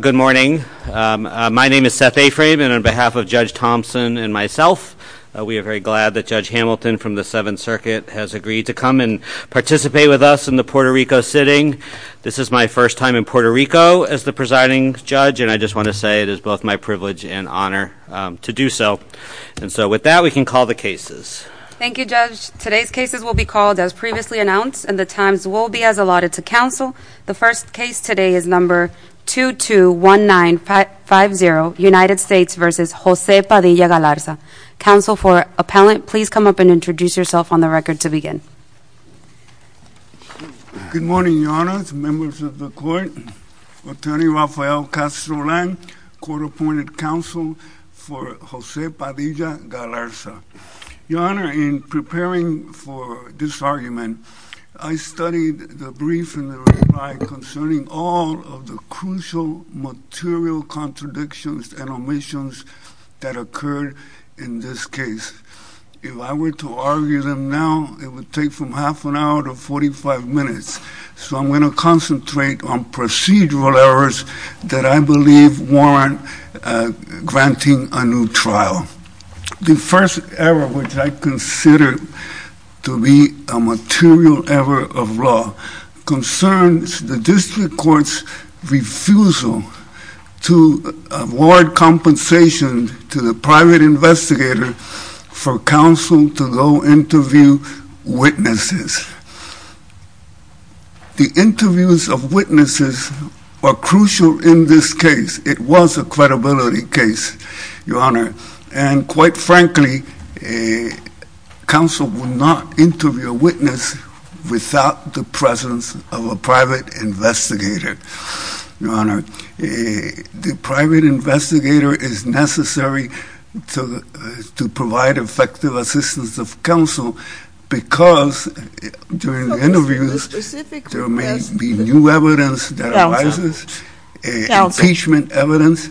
Good morning. My name is Seth Aframe and on behalf of Judge Thompson and myself, we are very glad that Judge Hamilton from the Seventh Circuit has agreed to come and participate with us in the Puerto Rico sitting. This is my first time in Puerto Rico as the presiding judge and I just want to say it is both my privilege and honor to do so. And so with that we can call the cases. Thank you, Judge. Today's cases will be called as previously announced and the times will be as allotted to counsel. The first case today is number 221950, United States v. José Padilla-Galarza. Counsel for appellant, please come up and introduce yourself on the record to begin. Good morning, Your Honor, members of the court. Attorney Rafael Castro Lang, court-appointed counsel for José Padilla-Galarza. Your Honor, in preparing for this argument, I studied the brief and the reply concerning all of the crucial material contradictions and omissions that occurred in this case. If I were to argue them now, it would take from half an hour to 45 minutes. So I'm going to concentrate on procedural errors that I believe warrant granting a new trial. The first error, which I consider to be a material error of law, concerns the district court's refusal to award compensation to the private investigator for counsel to go interview witnesses. The interviews of witnesses are crucial in this case. It was a credibility case, Your Honor, and quite frankly, counsel will not interview a witness without the presence of a private investigator. Your Honor, the private investigator is necessary to provide effective assistance of counsel because during the interviews there may be new evidence that arises. Counsel. Impeachment evidence.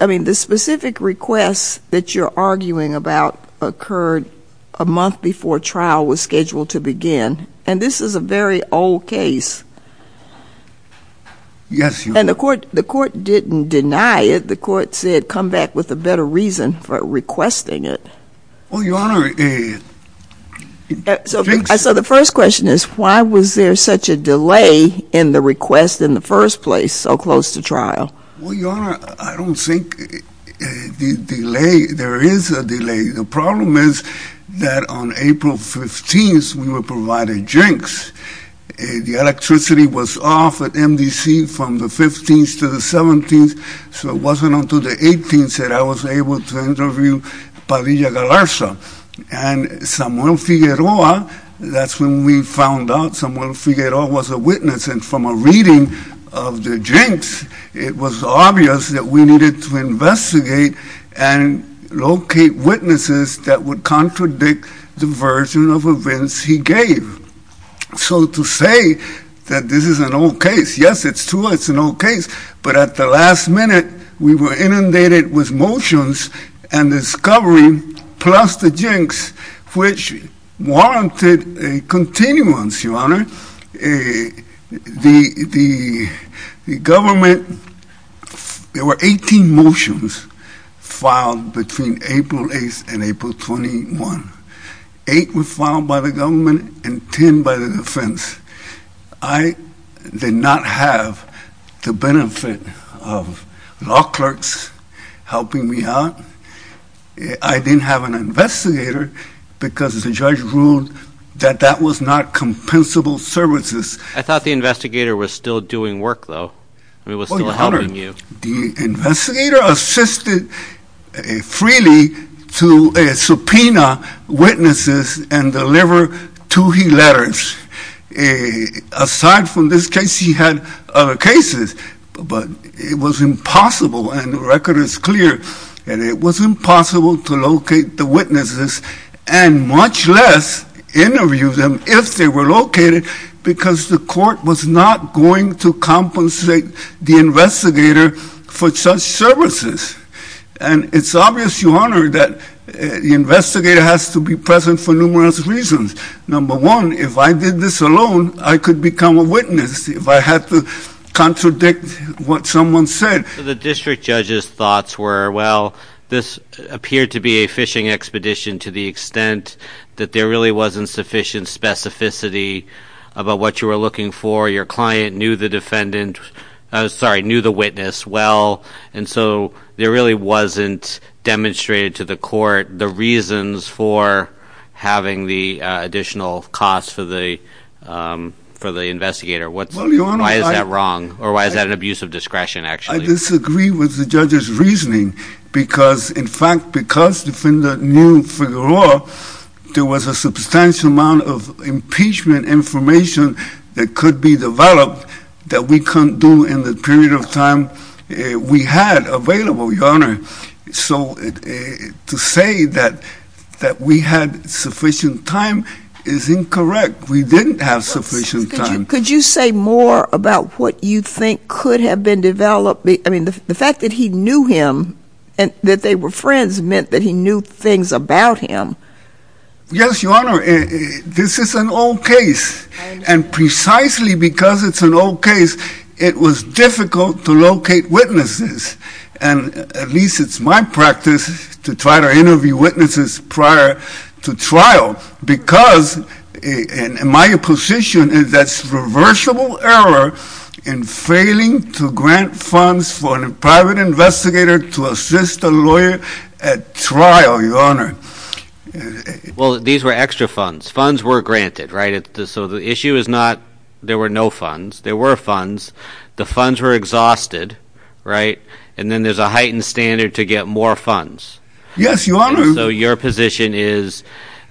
I mean, the specific request that you're arguing about occurred a month before trial was scheduled to begin, and this is a very old case. Yes, Your Honor. And the court didn't deny it. The court said come back with a better reason for requesting it. Well, Your Honor, it thinks... So the first question is why was there such a delay in the request in the first place so close to trial? Well, Your Honor, I don't think the delay, there is a delay. The problem is that on April 15th we were provided drinks. The electricity was off at MDC from the 15th to the 17th, so it wasn't until the 18th that I was able to interview Padilla-Galarza. And Samuel Figueroa, that's when we found out Samuel Figueroa was a witness, and from a reading of the drinks it was obvious that we needed to investigate and locate witnesses that would contradict the version of events he gave. So to say that this is an old case, yes, it's true it's an old case, but at the last minute we were inundated with motions and discovery, plus the jinx, which warranted a continuance, Your Honor. The government, there were 18 motions filed between April 8th and April 21st. Eight were filed by the government and ten by the defense. I did not have the benefit of law clerks helping me out. I didn't have an investigator because the judge ruled that that was not compensable services. I thought the investigator was still doing work, though. I mean, was still helping you. The investigator assisted freely to subpoena witnesses and deliver to-he letters. Aside from this case, he had other cases, but it was impossible, and the record is clear, and it was impossible to locate the witnesses and much less interview them if they were located because the court was not going to compensate the investigator for such services. And it's obvious, Your Honor, that the investigator has to be present for numerous reasons. Number one, if I did this alone, I could become a witness if I had to contradict what someone said. The district judge's thoughts were, well, this appeared to be a fishing expedition to the extent that there really wasn't sufficient specificity about what you were looking for. Your client knew the defendant, sorry, knew the witness well, and so there really wasn't demonstrated to the court the reasons for having the additional costs for the investigator. Why is that wrong, or why is that an abuse of discretion, actually? I disagree with the judge's reasoning because, in fact, because the defendant knew Figueroa, there was a substantial amount of impeachment information that could be developed that we couldn't do in the period of time we had available, Your Honor. So to say that we had sufficient time is incorrect. We didn't have sufficient time. Could you say more about what you think could have been developed? I mean, the fact that he knew him and that they were friends meant that he knew things about him. Yes, Your Honor. This is an old case, and precisely because it's an old case, it was difficult to locate witnesses, and at least it's my practice to try to interview witnesses prior to trial because my position is that's reversible error in failing to grant funds for a private investigator to assist a lawyer at trial, Your Honor. Well, these were extra funds. Funds were granted, right? So the issue is not there were no funds. There were funds. The funds were exhausted, right? And then there's a heightened standard to get more funds. Yes, Your Honor. So your position is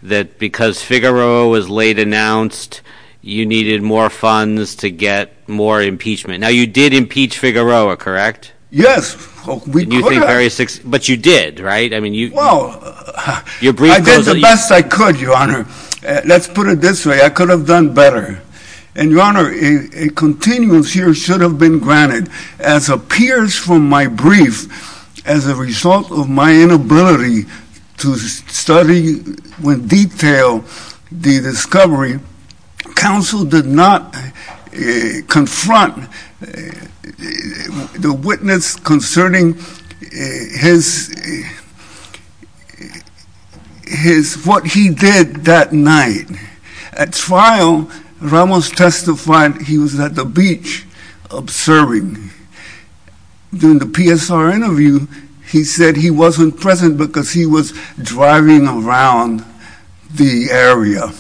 that because Figueroa was late announced, you needed more funds to get more impeachment. Now, you did impeach Figueroa, correct? Yes. But you did, right? Well, I did the best I could, Your Honor. Let's put it this way. I could have done better. And, Your Honor, a continuance here should have been granted. As appears from my brief, as a result of my inability to study with detail the discovery, counsel did not confront the witness concerning what he did that night. At trial, Ramos testified he was at the beach observing. During the PSR interview, he said he wasn't present because he was driving around the area.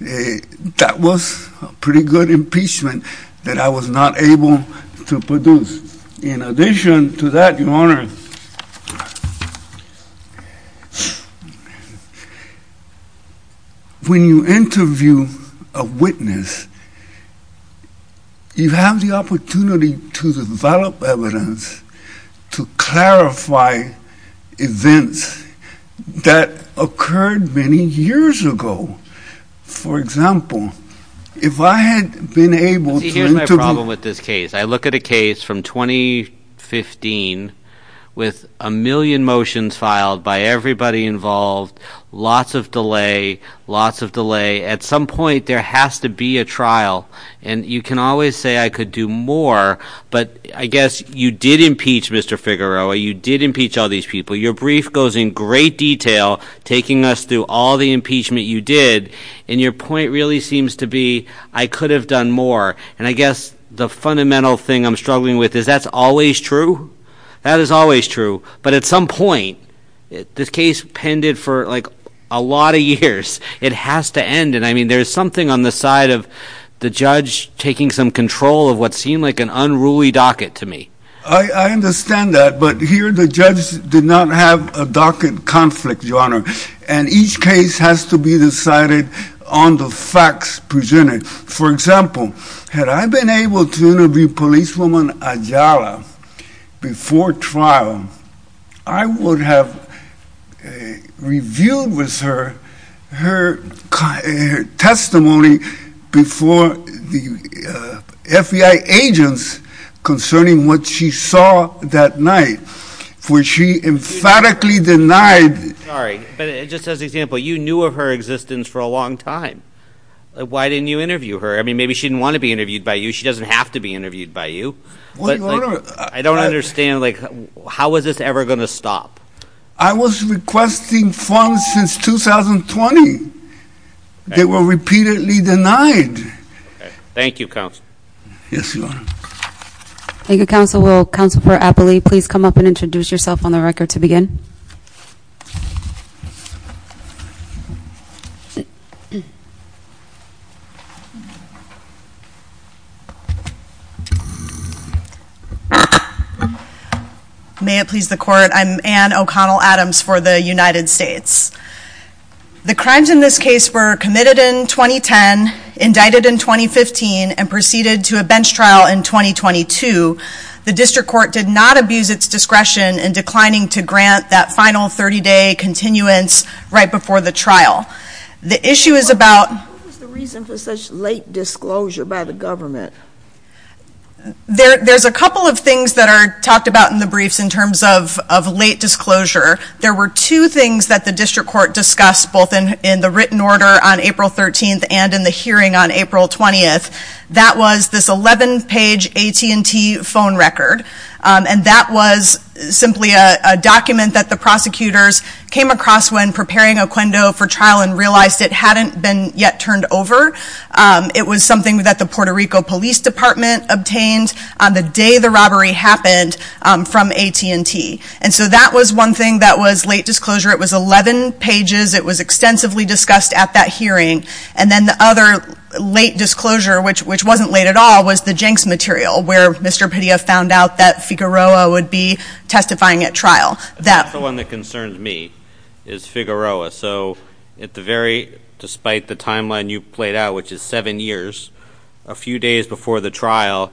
That was a pretty good impeachment that I was not able to produce. In addition to that, Your Honor, when you interview a witness, you have the opportunity to develop evidence to clarify events that occurred many years ago. For example, if I had been able to interview... See, here's my problem with this case. I look at a case from 2015 with a million motions filed by everybody involved, lots of delay, lots of delay. At some point, there has to be a trial. And you can always say I could do more, but I guess you did impeach Mr. Figueroa. You did impeach all these people. Your brief goes in great detail, taking us through all the impeachment you did. And your point really seems to be I could have done more. And I guess the fundamental thing I'm struggling with is that's always true. That is always true. But at some point, this case pended for like a lot of years. It has to end. And I mean, there's something on the side of the judge taking some control of what seemed like an unruly docket to me. I understand that. But here the judge did not have a docket conflict, Your Honor. And each case has to be decided on the facts presented. For example, had I been able to interview policewoman Ayala before trial, I would have reviewed with her her testimony before the FBI agents concerning what she saw that night, for she emphatically denied. Sorry, but just as an example, you knew of her existence for a long time. Why didn't you interview her? I mean, maybe she didn't want to be interviewed by you. She doesn't have to be interviewed by you. I don't understand. How is this ever going to stop? I was requesting funds since 2020. They were repeatedly denied. Thank you, Counsel. Yes, Your Honor. Thank you, Counsel. Will Counsel for Appley please come up and introduce yourself on the record to begin? May it please the Court, I'm Anne O'Connell Adams for the United States. The crimes in this case were committed in 2010, indicted in 2015, and proceeded to a bench trial in 2022. The District Court did not abuse its discretion in declining to grant that final 30-day continuance right before the trial. The issue is about... What was the reason for such late disclosure by the government? There's a couple of things that are talked about in the briefs in terms of late disclosure. There were two things that the District Court discussed both in the written order on April 13th and in the hearing on April 20th. That was this 11-page AT&T phone record. And that was simply a document that the prosecutors came across when preparing Oquendo for trial and realized it hadn't been yet turned over. It was something that the Puerto Rico Police Department obtained on the day the robbery happened from AT&T. And so that was one thing that was late disclosure. It was 11 pages. It was extensively discussed at that hearing. And then the other late disclosure, which wasn't late at all, was the Jenks material, where Mr. Padilla found out that Figueroa would be testifying at trial. The one that concerns me is Figueroa. So at the very... Despite the timeline you played out, which is seven years, a few days before the trial,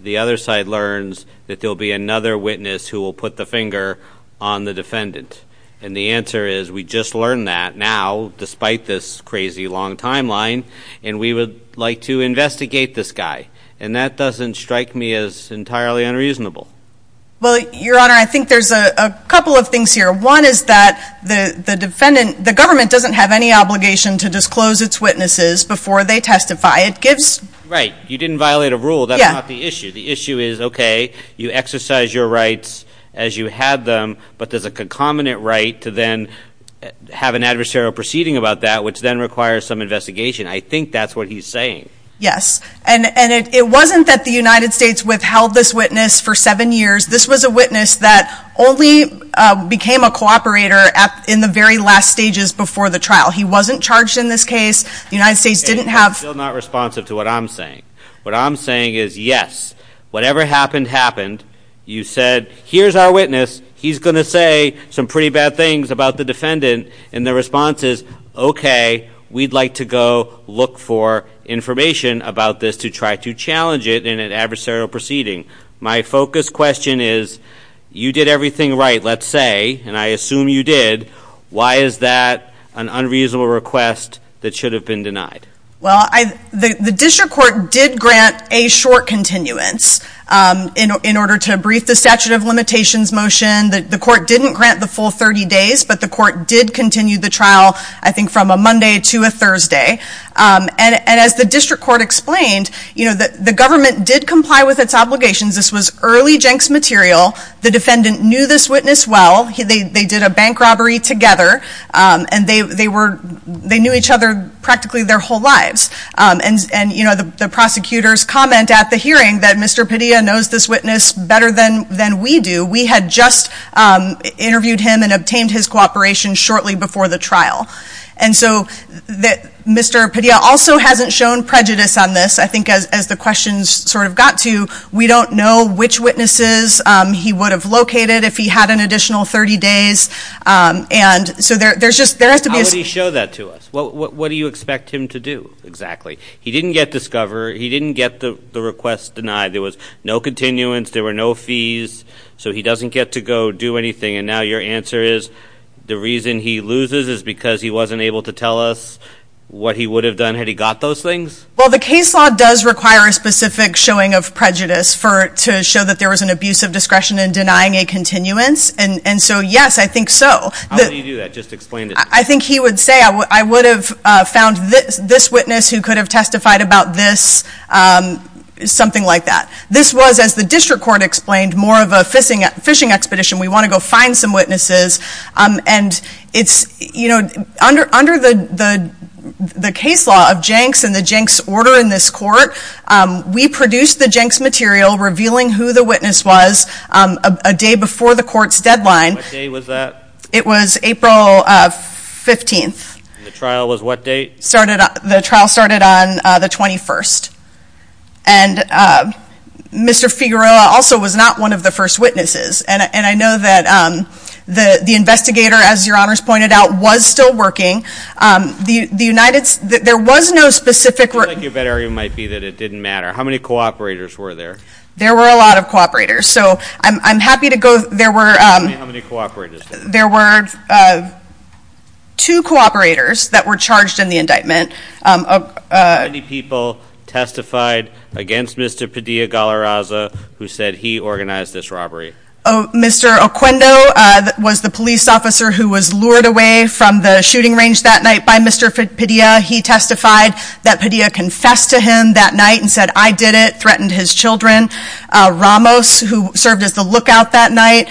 the other side learns that there will be another witness who will put the finger on the defendant. And the answer is we just learned that now, despite this crazy long timeline, and we would like to investigate this guy. And that doesn't strike me as entirely unreasonable. Well, Your Honor, I think there's a couple of things here. One is that the defendant... The government doesn't have any obligation to disclose its witnesses before they testify. It gives... Right. You didn't violate a rule. That's not the issue. The issue is, okay, you exercise your rights as you had them, but there's a concomitant right to then have an adversarial proceeding about that, which then requires some investigation. I think that's what he's saying. Yes. And it wasn't that the United States withheld this witness for seven years. This was a witness that only became a cooperator in the very last stages before the trial. He wasn't charged in this case. The United States didn't have... And he's still not responsive to what I'm saying. What I'm saying is, yes, whatever happened, happened. You said, here's our witness. He's going to say some pretty bad things about the defendant. And the response is, okay, we'd like to go look for information about this to try to challenge it in an adversarial proceeding. My focus question is, you did everything right, let's say, and I assume you did. Why is that an unreasonable request that should have been denied? Well, the district court did grant a short continuance in order to brief the statute of limitations motion. The court didn't grant the full 30 days, but the court did continue the trial, I think, from a Monday to a Thursday. And as the district court explained, the government did comply with its obligations. This was early Jenks material. The defendant knew this witness well. They did a bank robbery together, and they knew each other practically their whole lives. And the prosecutors comment at the hearing that Mr. Padilla knows this witness better than we do. We had just interviewed him and obtained his cooperation shortly before the trial. And so Mr. Padilla also hasn't shown prejudice on this. I think as the questions sort of got to, we don't know which witnesses he would have located if he had an additional 30 days. And so there has to be a- How would he show that to us? What do you expect him to do exactly? He didn't get discover. He didn't get the request denied. There was no continuance. There were no fees. So he doesn't get to go do anything. And now your answer is the reason he loses is because he wasn't able to tell us what he would have done had he got those things? Well, the case law does require a specific showing of prejudice to show that there was an abuse of discretion in denying a continuance. And so, yes, I think so. How would he do that? Just explain it to us. I think he would say, I would have found this witness who could have testified about this, something like that. This was, as the district court explained, more of a fishing expedition. We want to go find some witnesses. And it's, you know, under the case law of Jenks and the Jenks order in this court, we produced the Jenks material revealing who the witness was a day before the court's deadline. What day was that? It was April 15th. And the trial was what date? The trial started on the 21st. And Mr. Figueroa also was not one of the first witnesses. And I know that the investigator, as your honors pointed out, was still working. The United States, there was no specific. It might be that it didn't matter. How many cooperators were there? There were a lot of cooperators. So, I'm happy to go, there were. How many cooperators? There were two cooperators that were charged in the indictment. How many people testified against Mr. Padilla-Gallaraza who said he organized this robbery? Mr. Oquendo was the police officer who was lured away from the shooting range that night by Mr. Padilla. He testified that Padilla confessed to him that night and said, I did it, threatened his children. Ramos, who served as the lookout that night,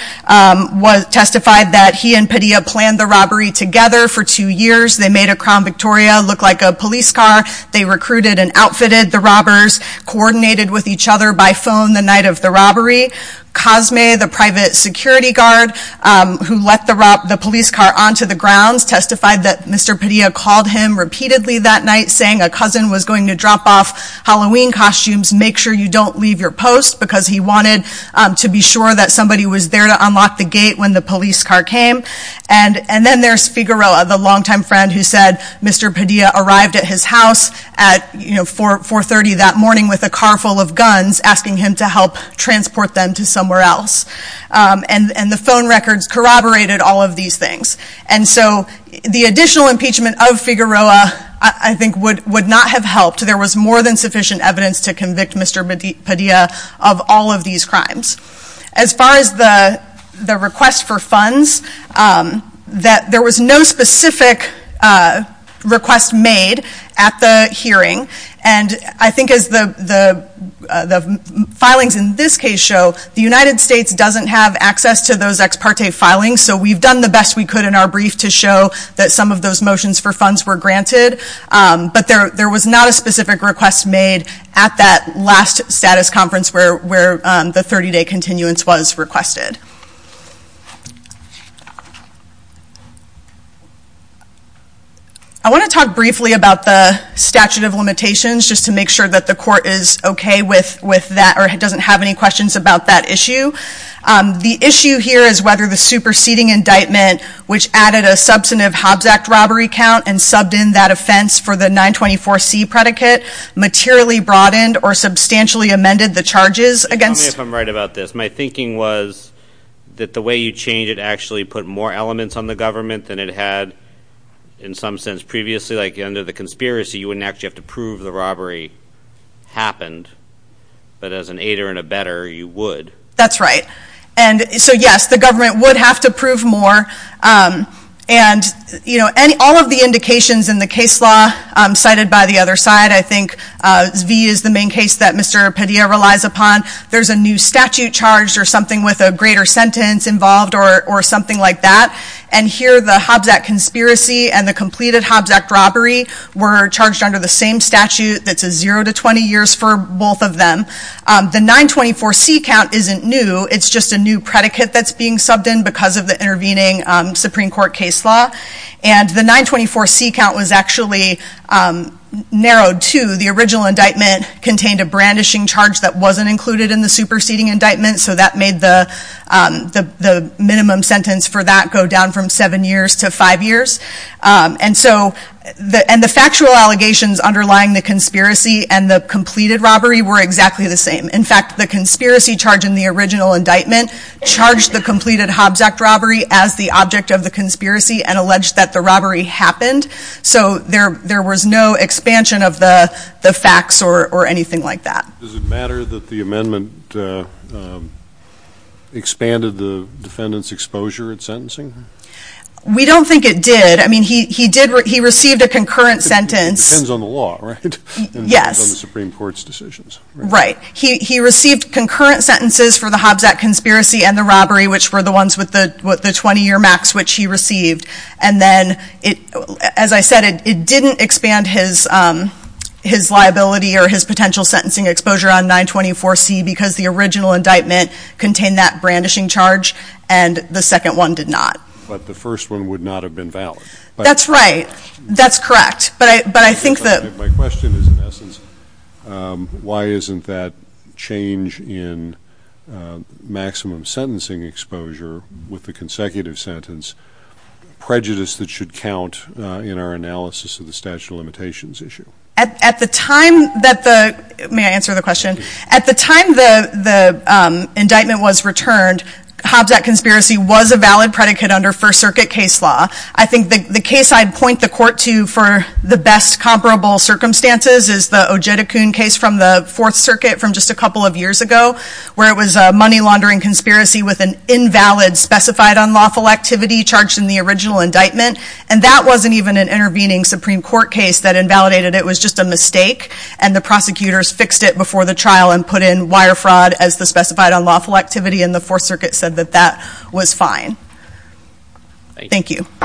testified that he and Padilla planned the robbery together for two years. They made a Crown Victoria look like a police car. They recruited and outfitted the robbers, coordinated with each other by phone the night of the robbery. Cosme, the private security guard who let the police car onto the grounds, testified that Mr. Padilla called him repeatedly that night saying a cousin was going to drop off Halloween costumes. Make sure you don't leave your post because he wanted to be sure that somebody was there to unlock the gate when the police car came. And then there's Figueroa, the longtime friend who said Mr. Padilla arrived at his house at 4.30 that morning with a car full of guns, asking him to help transport them to somewhere else. And the phone records corroborated all of these things. And so the additional impeachment of Figueroa, I think, would not have helped. There was more than sufficient evidence to convict Mr. Padilla of all of these crimes. As far as the request for funds, there was no specific request made at the hearing. And I think as the filings in this case show, the United States doesn't have access to those ex parte filings. So we've done the best we could in our brief to show that some of those motions for funds were granted. But there was not a specific request made at that last status conference where the 30 day continuance was requested. I want to talk briefly about the statute of limitations just to make sure that the court is okay with that or doesn't have any questions about that issue. The issue here is whether the superseding indictment, which added a substantive Hobbs Act robbery count and subbed in that offense for the 924C predicate, materially broadened or substantially amended the charges against- Tell me if I'm right about this. My thinking was that the way you changed it actually put more elements on the government than it had in some sense previously. Like under the conspiracy, you wouldn't actually have to prove the robbery happened. But as an aider and abetter, you would. That's right. So yes, the government would have to prove more and all of the indications in the case law cited by the other side, I think V is the main case that Mr. Padilla relies upon. There's a new statute charged or something with a greater sentence involved or something like that. And here the Hobbs Act conspiracy and the completed Hobbs Act robbery were charged under the same statute. That's a zero to 20 years for both of them. The 924C count isn't new. It's just a new predicate that's being subbed in because of the intervening Supreme Court case law. And the 924C count was actually narrowed to the original indictment contained a brandishing charge that wasn't included in the superseding indictment. So that made the minimum sentence for that go down from seven years to five years. And the factual allegations underlying the conspiracy and the completed robbery were exactly the same. In fact, the conspiracy charge in the original indictment charged the completed Hobbs Act robbery as the object of the conspiracy and alleged that the robbery happened. So there was no expansion of the facts or anything like that. Does it matter that the amendment expanded the defendant's exposure in sentencing? We don't think it did. I mean, he received a concurrent sentence. It depends on the law, right? Yes. It depends on the Supreme Court's decisions. Right. He received concurrent sentences for the Hobbs Act conspiracy and the robbery, which were the ones with the 20-year max which he received. And then, as I said, it didn't expand his liability or his potential sentencing exposure on 924C because the original indictment contained that brandishing charge and the second one did not. But the first one would not have been valid. That's right. That's correct. But I think that... My question is, in essence, why isn't that change in maximum sentencing exposure with the consecutive sentence prejudice that should count in our analysis of the statute of limitations issue? At the time that the... May I answer the question? At the time the indictment was returned, Hobbs Act conspiracy was a valid predicate under First Circuit case law. I think the case I'd point the court to for the best comparable circumstances is the Ojedicoon case from the Fourth Circuit from just a couple of years ago where it was a money laundering conspiracy with an invalid specified unlawful activity charged in the original indictment. And that wasn't even an intervening Supreme Court case that invalidated it. It was just a mistake. And the prosecutors fixed it before the trial and put in wire fraud as the specified unlawful activity and the Fourth Circuit said that that was fine. Thank you.